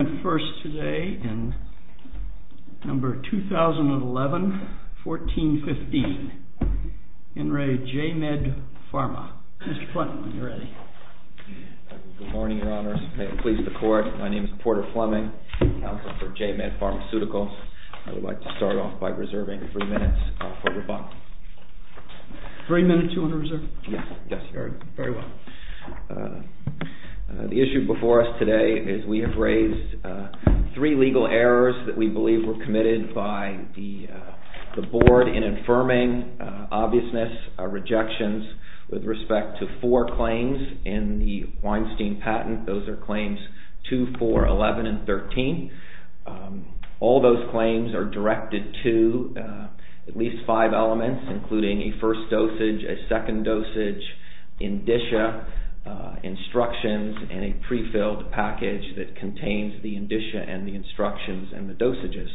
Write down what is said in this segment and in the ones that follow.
I'm first today in number 2011-14-15, ENRE J-MED PHARMA. Mr. Fleming, are you ready? Good morning, your honors. May it please the court, my name is Porter Fleming, counsel for J-MED Pharmaceuticals. I would like to start off by reserving three minutes for rebuttal. Three minutes you want to reserve? Yes, yes. Very well. The issue before us today is we have raised three legal errors that we believe were committed by the board in affirming obviousness of rejections with respect to four claims in the Weinstein patent. Those are claims 2, 4, 11, and 13. All those claims are directed to at least five elements, including a first dosage, a second dosage, indicia, instructions, and a prefilled package that contains the indicia and the instructions and the dosages.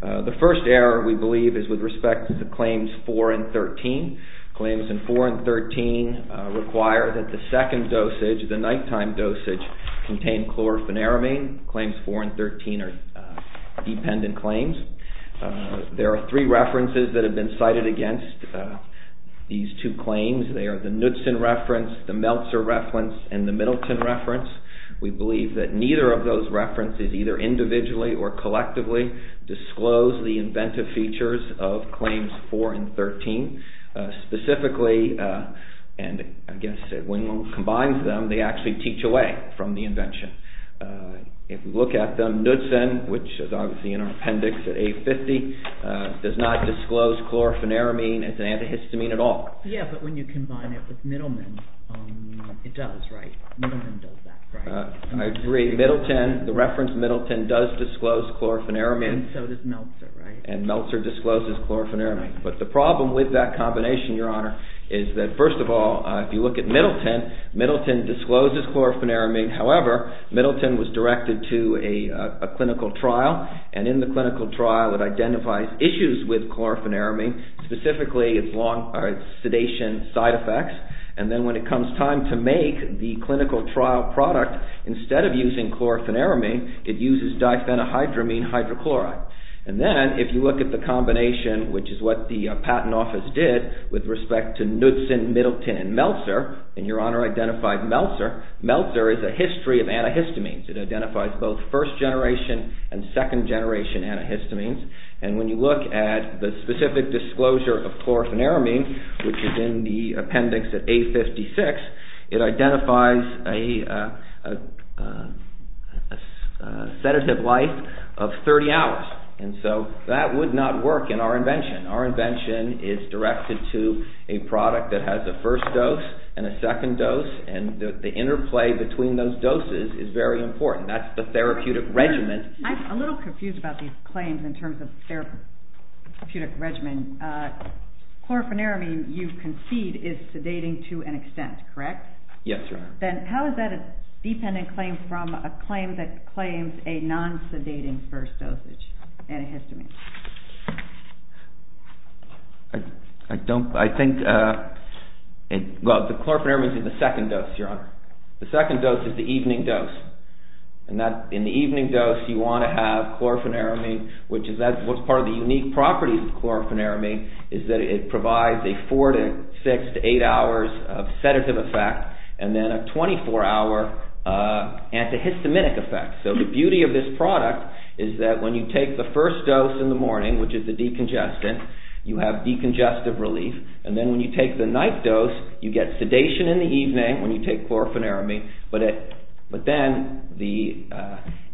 The first error, we believe, is with respect to the claims 4 and 13. Claims in 4 and 13 require that the second dosage, the nighttime dosage, contain chlorofenaramine. Claims 4 and 13 are dependent claims. There are three references that have been cited against these two claims. They are the Knudsen reference, the Meltzer reference, and the Middleton reference. We believe that neither of those references, either individually or collectively, disclose the inventive features of claims 4 and 13. Specifically, and I guess when one combines them, they actually teach away from the invention. If you look at them, Knudsen, which is obviously in our appendix at A50, does not disclose chlorofenaramine as an antihistamine at all. Yeah, but when you combine it with Middleton, it does, right? Middleton does that, right? I agree. Middleton, the reference Middleton, does disclose chlorofenaramine. And so does Meltzer, right? And Meltzer discloses chlorofenaramine. But the problem with that combination, Your Honor, is that first of all, if you look at Middleton, Middleton discloses chlorofenaramine. However, Middleton was directed to a clinical trial. And in the clinical trial, it identifies issues with chlorofenaramine, specifically its sedation side effects. And then when it comes time to make the clinical trial product, instead of using chlorofenaramine, it uses diphenhydramine hydrochloride. And then if you look at the combination, which is what the Patent Office did with respect to Knudsen, Middleton, and Meltzer, and Your Honor identified Meltzer, Meltzer is a history of antihistamines. It identifies both first-generation and second-generation antihistamines. And when you look at the specific disclosure of chlorofenaramine, which is in the appendix at A56, it identifies a sedative life of 30 hours. And so that would not work in our invention. Our invention is directed to a product that has a first dose and a second dose, and the interplay between those doses is very important. That's the therapeutic regimen. I'm a little confused about these claims in terms of therapeutic regimen. Chlorofenaramine, you concede, is sedating to an extent, correct? Yes, Your Honor. Then how is that a dependent claim from a claim that claims a non-sedating first dosage antihistamine? I think chlorofenaramine is in the second dose, Your Honor. The second dose is the evening dose. In the evening dose, you want to have chlorofenaramine, which is part of the unique properties of chlorofenaramine, is that it provides a 4 to 6 to 8 hours of sedative effect and then a 24 hour antihistaminic effect. So the beauty of this product is that when you take the first dose in the morning, which is the decongestant, you have decongestive relief. And then when you take the night dose, you get sedation in the evening when you take chlorofenaramine. But then the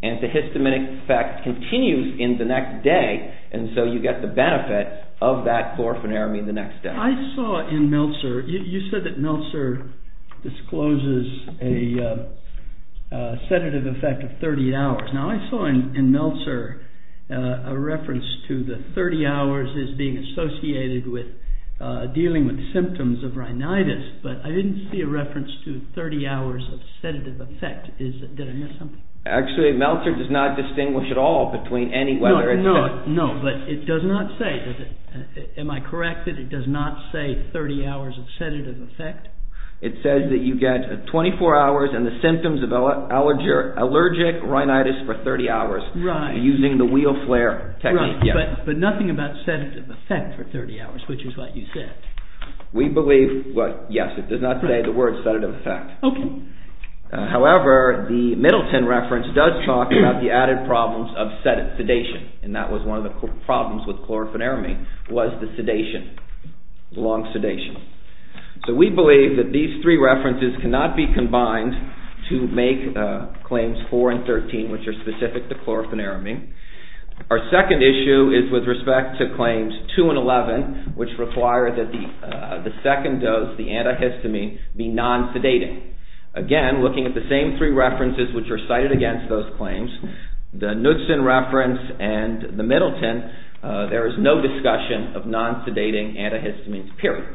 antihistaminic effect continues in the next day, and so you get the benefit of that chlorofenaramine the next day. I saw in Meltzer, you said that Meltzer discloses a sedative effect of 30 hours. Now, I saw in Meltzer a reference to the 30 hours as being associated with dealing with symptoms of rhinitis, but I didn't see a reference to 30 hours of sedative effect. Did I miss something? Actually, Meltzer does not distinguish at all between any whether it's sedative. No, but it does not say. Am I correct that it does not say 30 hours of sedative effect? It says that you get 24 hours and the symptoms of allergic rhinitis for 30 hours using the wheel flare technique. But nothing about sedative effect for 30 hours, which is what you said. We believe, yes, it does not say the word sedative effect. However, the Middleton reference does talk about the added problems of sedation, and that was one of the problems with chlorofenaramine was the sedation, long sedation. So we believe that these three references cannot be combined to make claims 4 and 13, which are specific to chlorofenaramine. Our second issue is with respect to claims 2 and 11, which require that the second dose, the antihistamine, be non-sedating. Again, looking at the same three references which are cited against those claims, the Knudsen reference and the Middleton, there is no discussion of non-sedating antihistamines, period.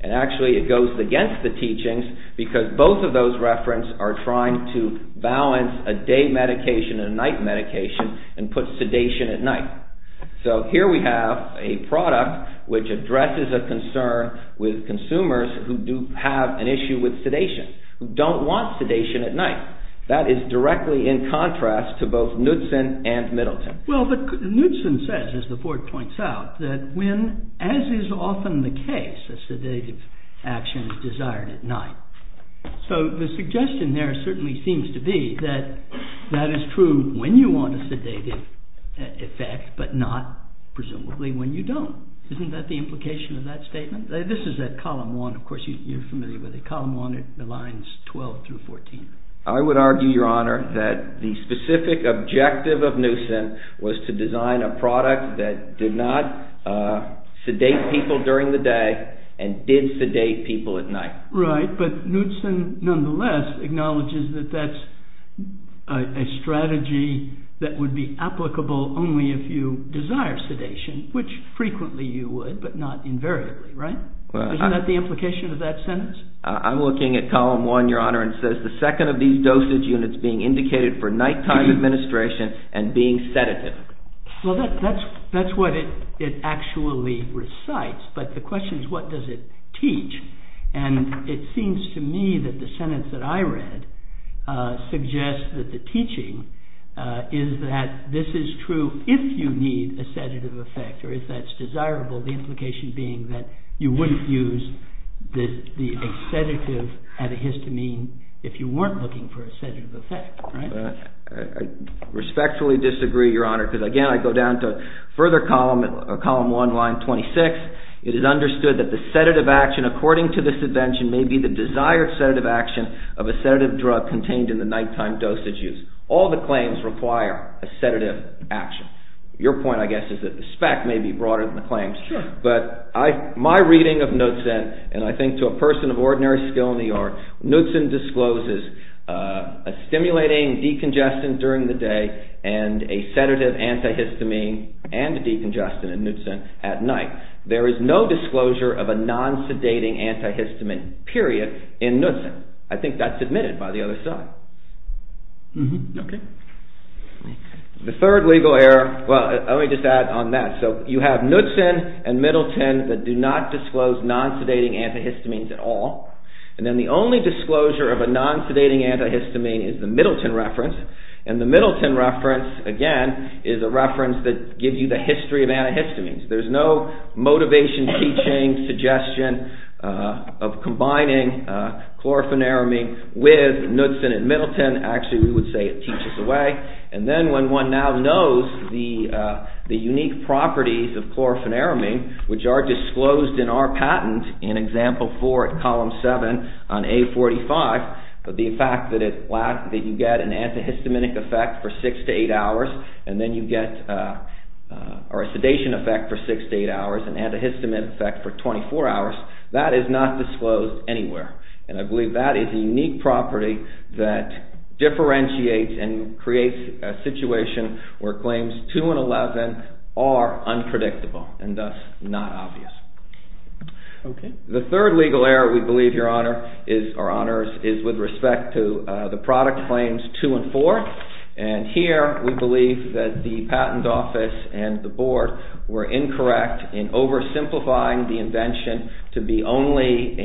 And actually it goes against the teachings because both of those references are trying to balance a day medication and a night medication and put sedation at night. So here we have a product which addresses a concern with consumers who do have an issue with sedation, who don't want sedation at night. That is directly in contrast to both Knudsen and Middleton. Well, but Knudsen says, as the board points out, that when, as is often the case, a sedative action is desired at night. So the suggestion there certainly seems to be that that is true when you want a sedative effect, but not, presumably, when you don't. Isn't that the implication of that statement? This is at column 1, of course, you're familiar with it. I would argue, Your Honor, that the specific objective of Knudsen was to design a product that did not sedate people during the day and did sedate people at night. Right, but Knudsen, nonetheless, acknowledges that that's a strategy that would be applicable only if you desire sedation, which frequently you would, but not invariably, right? Isn't that the implication of that sentence? I'm looking at column 1, Your Honor, and it says, the second of these dosage units being indicated for nighttime administration and being sedative. Well, that's what it actually recites, but the question is, what does it teach? And it seems to me that the sentence that I read suggests that the teaching is that this is true if you need a sedative effect, or if that's desirable, the implication being that you wouldn't use the sedative antihistamine if you weren't looking for a sedative effect, right? I respectfully disagree, Your Honor, because, again, I go down to further column 1, line 26. It is understood that the sedative action, according to this invention, may be the desired sedative action of a sedative drug contained in the nighttime dosage use. All the claims require a sedative action. Your point, I guess, is that the spec may be broader than the claims. Sure. But my reading of Knudsen, and I think to a person of ordinary skill in the art, Knudsen discloses a stimulating decongestant during the day and a sedative antihistamine and decongestant in Knudsen at night. There is no disclosure of a non-sedating antihistamine, period, in Knudsen. I think that's admitted by the other side. Okay. The third legal error, well, let me just add on that. So you have Knudsen and Middleton that do not disclose non-sedating antihistamines at all. And then the only disclosure of a non-sedating antihistamine is the Middleton reference. And the Middleton reference, again, is a reference that gives you the history of antihistamines. There's no motivation, teaching, suggestion of combining chlorofenaramine with Knudsen and Middleton. Again, actually, we would say it teaches away. And then when one now knows the unique properties of chlorofenaramine, which are disclosed in our patent in Example 4 at Column 7 on A45, but the fact that you get an antihistaminic effect for 6 to 8 hours and then you get a sedation effect for 6 to 8 hours, an antihistamine effect for 24 hours, that is not disclosed anywhere. And I believe that is a unique property that differentiates and creates a situation where claims 2 and 11 are unpredictable and thus not obvious. The third legal error, we believe, Your Honor, is with respect to the product claims 2 and 4. And here we believe that the Patent Office and the Board were incorrect in oversimplifying the invention to be only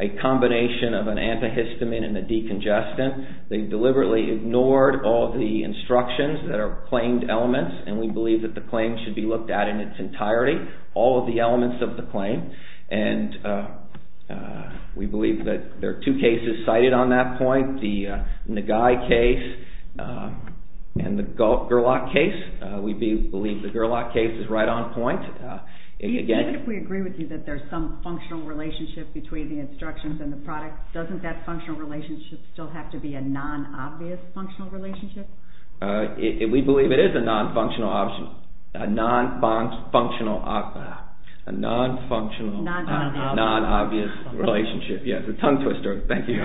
a combination of an antihistamine and a decongestant. They deliberately ignored all the instructions that are claimed elements and we believe that the claim should be looked at in its entirety, all of the elements of the claim. And we believe that there are two cases cited on that point, the Nagai case and the Gerlach case. We believe the Gerlach case is right on point. Even if we agree with you that there is some functional relationship between the instructions and the product, doesn't that functional relationship still have to be a non-obvious functional relationship? We believe it is a non-functional obvious relationship. Yes, a tongue twister, thank you.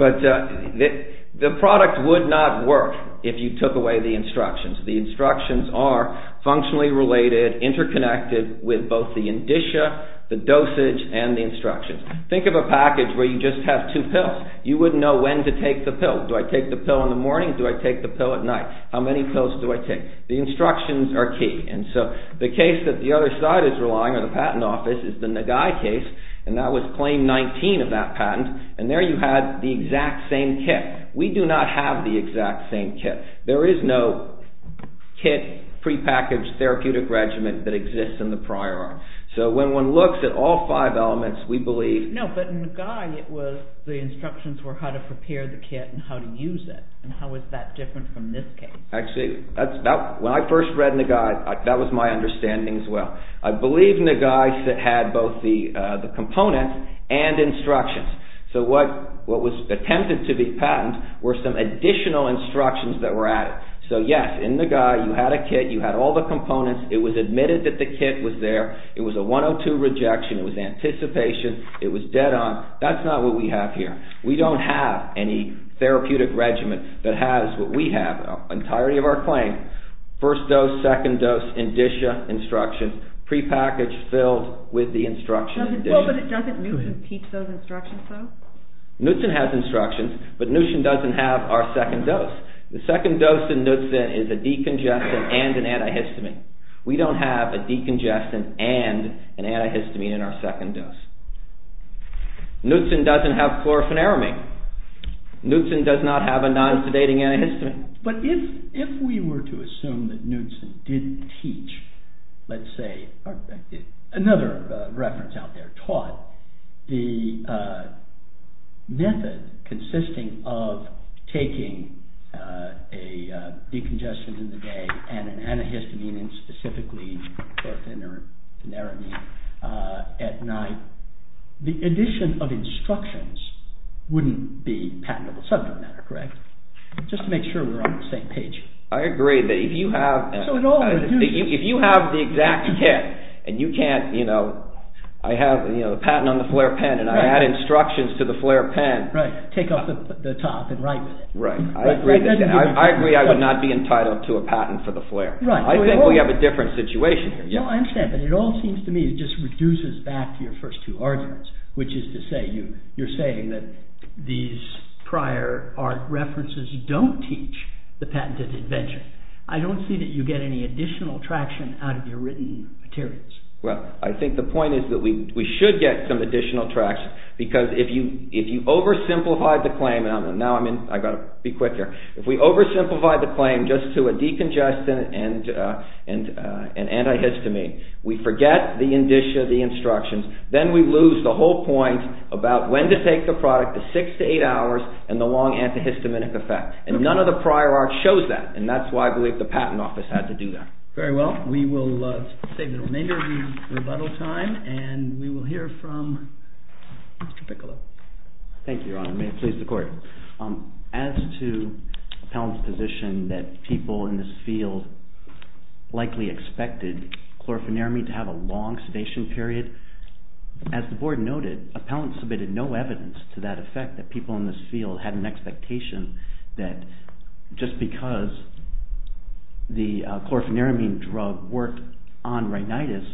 But the product would not work if you took away the instructions. The instructions are functionally related, interconnected with both the indicia, the dosage and the instructions. Think of a package where you just have two pills. You wouldn't know when to take the pill. Do I take the pill in the morning, do I take the pill at night? How many pills do I take? The instructions are key. And so the case that the other side is relying on, the Patent Office, is the Nagai case and that was claim 19 of that patent and there you had the exact same kit. We do not have the exact same kit. There is no kit, prepackaged therapeutic regimen that exists in the prior art. So when one looks at all five elements, we believe... No, but in Nagai the instructions were how to prepare the kit and how to use it. How is that different from this case? Actually, when I first read Nagai, that was my understanding as well. I believe Nagai had both the components and instructions. So what was attempted to be patent were some additional instructions that were added. So yes, in Nagai you had a kit, you had all the components. It was admitted that the kit was there. It was a 102 rejection. It was anticipation. It was dead on. That's not what we have here. We don't have any therapeutic regimen that has what we have, the entirety of our claim. First dose, second dose, indicia instructions, prepackaged filled with the instructions. Well, but doesn't Newson keep those instructions though? Newson has instructions, but Newson doesn't have our second dose. The second dose in Newson is a decongestant and an antihistamine. We don't have a decongestant and an antihistamine in our second dose. Newson doesn't have chlorofenaramate. Newson does not have a non-sedating antihistamine. But if we were to assume that Newson didn't teach, let's say, another reference out there, taught the method consisting of taking a decongestant in the day and an antihistamine and specifically chlorofenaramate at night, the addition of instructions wouldn't be patentable subject matter, correct? Just to make sure we're on the same page. I agree that if you have the exact kit and you can't, you know, I have the patent on the flare pen and I add instructions to the flare pen. Right, take off the top and write with it. I agree I would not be entitled to a patent for the flare. I think we have a different situation here. I understand, but it all seems to me it just reduces back to your first two arguments, which is to say you're saying that these prior art references don't teach the patented invention. I don't see that you get any additional traction out of your written materials. Well, I think the point is that we should get some additional traction because if you oversimplify the claim, and now I've got to be quicker, if we oversimplify the claim just to a decongestant and antihistamine, we forget the indicia, the instructions, then we lose the whole point about when to take the product, the six to eight hours, and the long antihistaminic effect. And none of the prior art shows that, and that's why I believe the patent office had to do that. Very well, we will save the remainder of the rebuttal time, and we will hear from Mr. Piccolo. Thank you, Your Honor. May it please the Court. As to Appellant's position that people in this field likely expected chlorofeniramine to have a long sedation period, as the Board noted, Appellant submitted no evidence to that effect, that people in this field had an expectation that just because the chlorofeniramine drug worked on rhinitis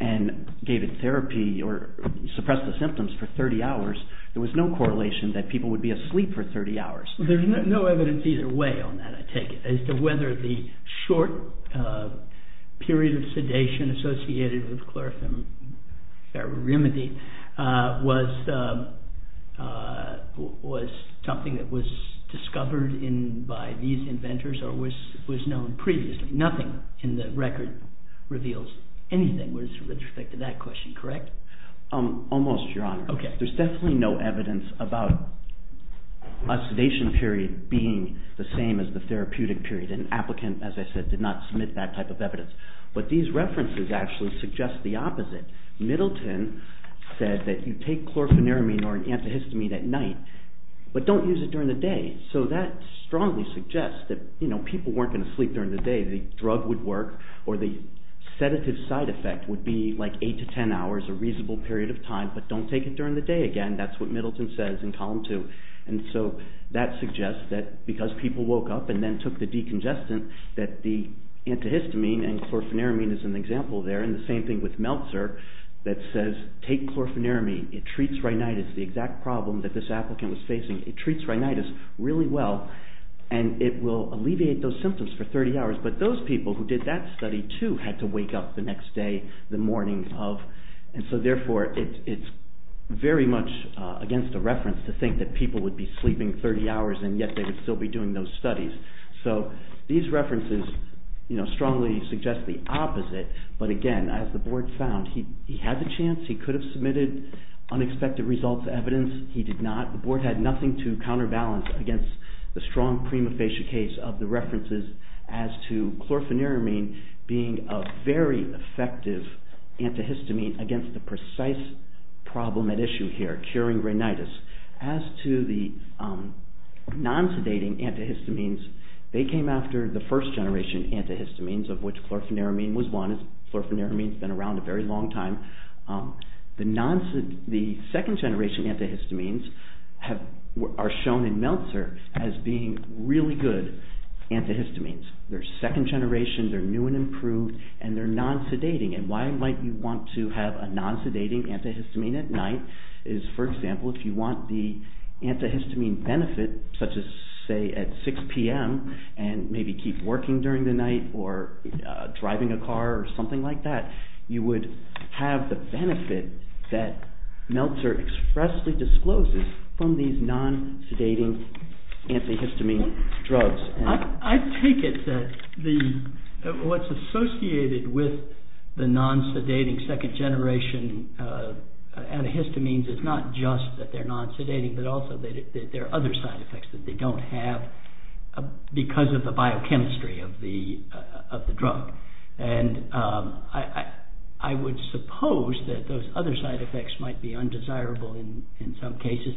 and gave it therapy or suppressed the symptoms for 30 hours, there was no correlation that people would be asleep for 30 hours. There's no evidence either way on that, I take it, as to whether the short period of sedation associated with chlorofeniramine was something that was discovered by these inventors or was known previously. Nothing in the record reveals anything with respect to that question, correct? Almost, Your Honor. There's definitely no evidence about a sedation period being the same as the therapeutic period, and Appellant, as I said, did not submit that type of evidence. But these references actually suggest the opposite. Middleton said that you take chlorofeniramine or an antihistamine at night, but don't use it during the day. So that strongly suggests that people weren't going to sleep during the day. The drug would work, or the sedative side effect would be like 8 to 10 hours, a reasonable period of time, but don't take it during the day again. That's what Middleton says in Column 2. And so that suggests that because people woke up and then took the decongestant, that the antihistamine and chlorofeniramine is an example there, and the same thing with Meltzer that says take chlorofeniramine. It treats rhinitis, the exact problem that this applicant was facing. It treats rhinitis really well, and it will alleviate those symptoms for 30 hours. But those people who did that study too had to wake up the next day, the morning of. And so, therefore, it's very much against the reference to think that people would be sleeping 30 hours and yet they would still be doing those studies. So these references strongly suggest the opposite, but again, as the board found, he had the chance, he could have submitted unexpected results, evidence. He did not. The board had nothing to counterbalance against the strong prima facie case of the references as to chlorofeniramine being a very effective antihistamine against the precise problem at issue here, curing rhinitis. As to the non-sedating antihistamines, they came after the first generation antihistamines, of which chlorofeniramine was one. Chlorofeniramine's been around a very long time. The second generation antihistamines are shown in Meltzer as being really good antihistamines. They're second generation, they're new and improved, and they're non-sedating. And why might you want to have a non-sedating antihistamine at night is, for example, if you want the antihistamine benefit, such as, say, at 6 p.m. and maybe keep working during the night or driving a car or something like that, you would have the benefit that Meltzer expressly discloses from these non-sedating antihistamine drugs. I take it that what's associated with the non-sedating second generation antihistamines is not just that they're non-sedating, but also that there are other side effects that they don't have because of the biochemistry of the drug. And I would suppose that those other side effects might be undesirable in some cases.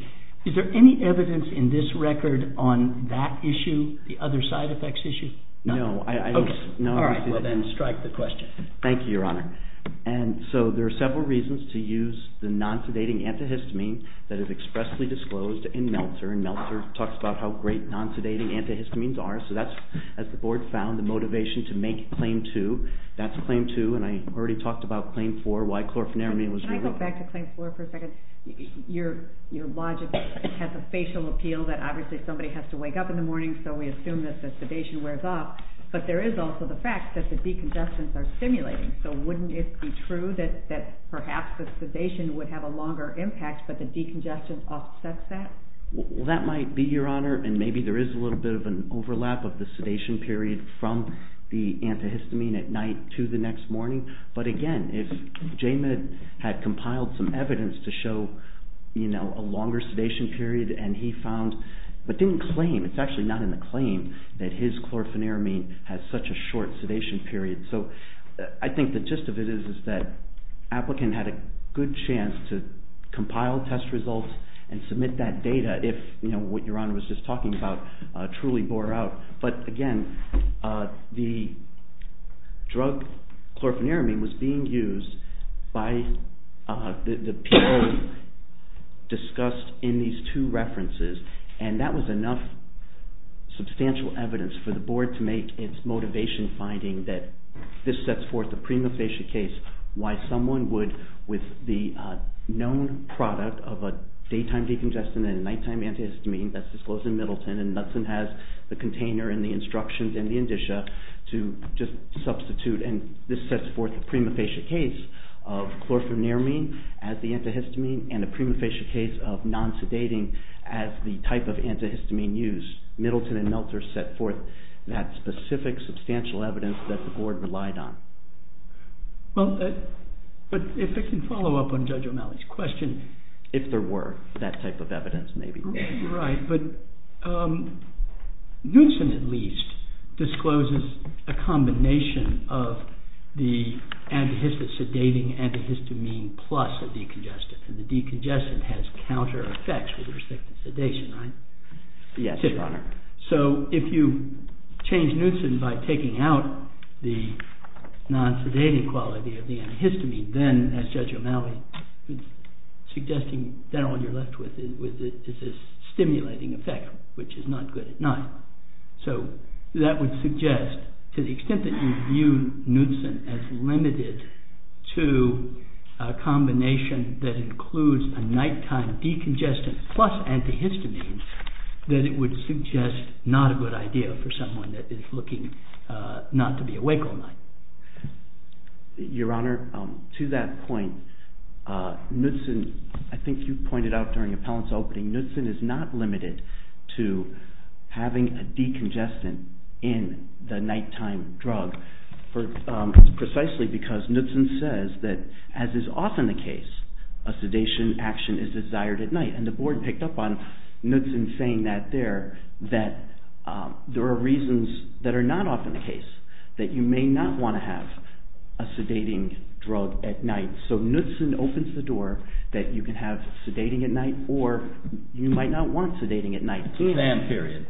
Is there any evidence in this record on that issue, the other side effects issue? No. Okay. All right. Well, then strike the question. Thank you, Your Honor. And so there are several reasons to use the non-sedating antihistamine that is expressly disclosed in Meltzer. And Meltzer talks about how great non-sedating antihistamines are. So that's, as the Board found, the motivation to make Claim 2. That's Claim 2, and I already talked about Claim 4, why chlorofeniramine was— Can I go back to Claim 4 for a second? Your logic has a facial appeal that obviously somebody has to wake up in the morning, so we assume that the sedation wears off. But there is also the fact that the decongestants are stimulating. So wouldn't it be true that perhaps the sedation would have a longer impact, but the decongestant offsets that? Well, that might be, Your Honor, and maybe there is a little bit of an overlap of the sedation period from the antihistamine at night to the next morning. But again, if J-Med had compiled some evidence to show a longer sedation period and he found—but didn't claim, it's actually not in the claim that his chlorofeniramine has such a short sedation period. So I think the gist of it is that the applicant had a good chance to compile test results and submit that data if what Your Honor was just talking about truly bore out. But again, the drug chlorofeniramine was being used by the people discussed in these two references, and that was enough substantial evidence for the board to make its motivation finding that this sets forth a prima facie case why someone would, with the known product of a daytime decongestant and a nighttime antihistamine that's disclosed in Middleton, and Knudsen has the container and the instructions and the indicia to just substitute. And this sets forth a prima facie case of chlorofeniramine as the antihistamine and a prima facie case of non-sedating as the type of antihistamine used. Middleton and Meltzer set forth that specific substantial evidence that the board relied on. But if I can follow up on Judge O'Malley's question— If there were that type of evidence, maybe. Right, but Knudsen, at least, discloses a combination of the antihistamine plus a decongestant, and the decongestant has counter-effects with respect to sedation, right? Yes, Your Honor. So if you change Knudsen by taking out the non-sedating quality of the antihistamine, then, as Judge O'Malley was suggesting, then all you're left with is this stimulating effect, which is not good at night. So that would suggest, to the extent that you view Knudsen as limited to a combination that includes a nighttime decongestant plus antihistamine, that it would suggest not a good idea for someone that is looking not to be awake all night. Your Honor, to that point, Knudsen— I think you pointed out during the appellant's opening— Knudsen is not limited to having a decongestant in the nighttime drug precisely because Knudsen says that, as is often the case, a sedation action is desired at night. And the board picked up on Knudsen saying that there, that there are reasons that are not often the case that you may not want to have a sedating drug at night. So Knudsen opens the door that you can have sedating at night or you might not want sedating at night. It's exam period.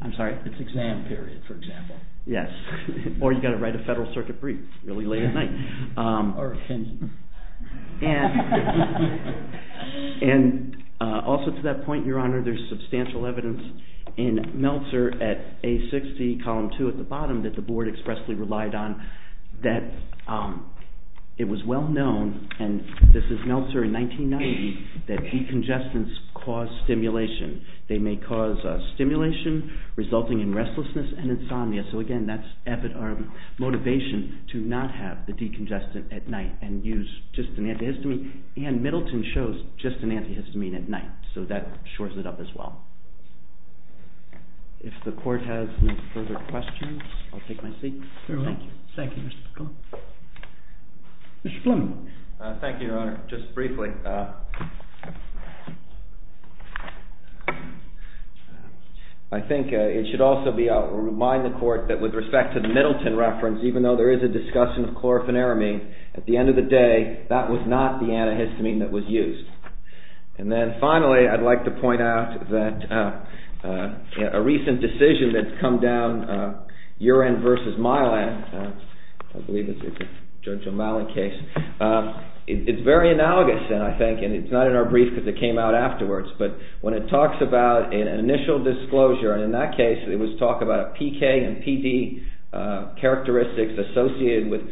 I'm sorry? It's exam period, for example. Yes. Or you've got to write a Federal Circuit brief really late at night. Or a sentence. And also to that point, Your Honor, there's substantial evidence in Meltzer at A60, column 2 at the bottom, that the board expressly relied on, that it was well known— and this is Meltzer in 1990— that decongestants cause stimulation. They may cause stimulation resulting in restlessness and insomnia. So, again, that's motivation to not have the decongestant at night and use just an antihistamine. And Middleton shows just an antihistamine at night, so that shores it up as well. If the court has no further questions, I'll take my seat. Certainly. Thank you, Mr. McClellan. Mr. Fleming. Thank you, Your Honor. Just briefly. I think it should also remind the court that with respect to the Middleton reference, even though there is a discussion of chlorofenaramine, at the end of the day, that was not the antihistamine that was used. And then, finally, I'd like to point out that a recent decision that's come down, Urine v. Mylan, I believe it's a Judge O'Malley case, it's very analogous, I think, and it's not in our brief because it came out afterwards, but when it talks about an initial disclosure, and in that case it was talk about PK and PD characteristics associated with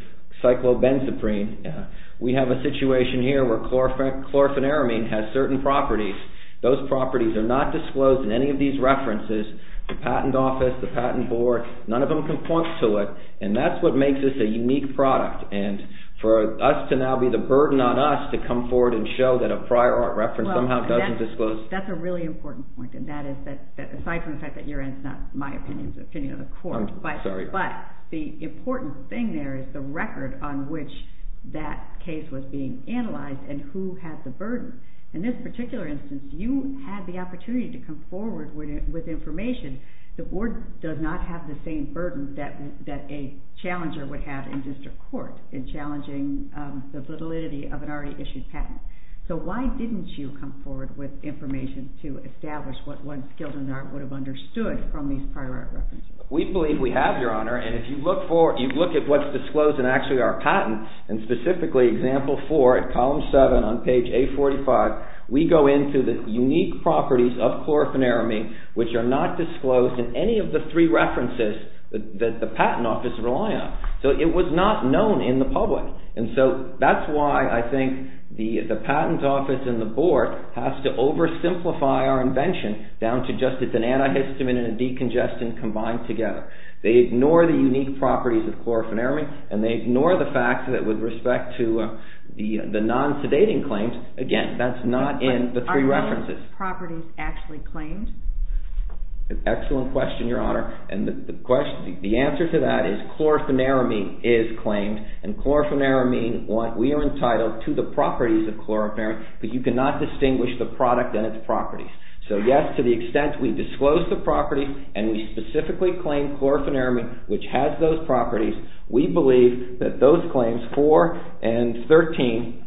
cyclobenzaprine, we have a situation here where chlorofenaramine has certain properties. Those properties are not disclosed in any of these references. The patent office, the patent board, none of them can point to it, and that's what makes this a unique product. And for us to now be the burden on us to come forward and show that a prior art reference somehow doesn't disclose it. That's a really important point, and that is that, aside from the fact that urine is not my opinion, it's the opinion of the court. I'm sorry. But the important thing there is the record on which that case was being analyzed and who had the burden. In this particular instance, you had the opportunity to come forward with information. The board does not have the same burden that a challenger would have in district court in challenging the validity of an already issued patent. So why didn't you come forward with information to establish what one skilled in the art would have understood from these prior art references? We believe we have, Your Honor, and if you look at what's disclosed in actually our patents, and specifically example four at column seven on page 845, we go into the unique properties of chlorfenaramine, which are not disclosed in any of the three references that the patent office rely on. So it was not known in the public. And so that's why I think the patent office and the board have to oversimplify our invention down to just it's an antihistamine and a decongestant combined together. They ignore the unique properties of chlorfenaramine, and they ignore the fact that with respect to the non-sedating claims, again, that's not in the three references. Are those properties actually claimed? Excellent question, Your Honor. And the answer to that is chlorfenaramine is claimed, and chlorfenaramine, we are entitled to the properties of chlorfenaramine, but you cannot distinguish the product and its properties. So, yes, to the extent we disclose the property and we specifically claim chlorfenaramine, which has those properties, we believe that those claims, four and 13,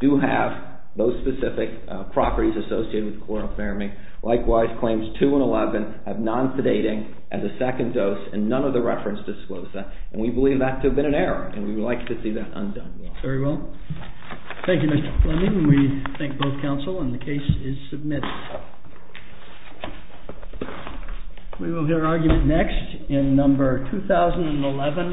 do have those specific properties associated with chlorfenaramine. Likewise, claims two and 11 have non-sedating as a second dose, and none of the references disclose that. And we believe that to have been an error, and we would like to see that undone. Very well. Thank you, Mr. Fleming. We thank both counsel, and the case is submitted. We will hear argument next in number 2011.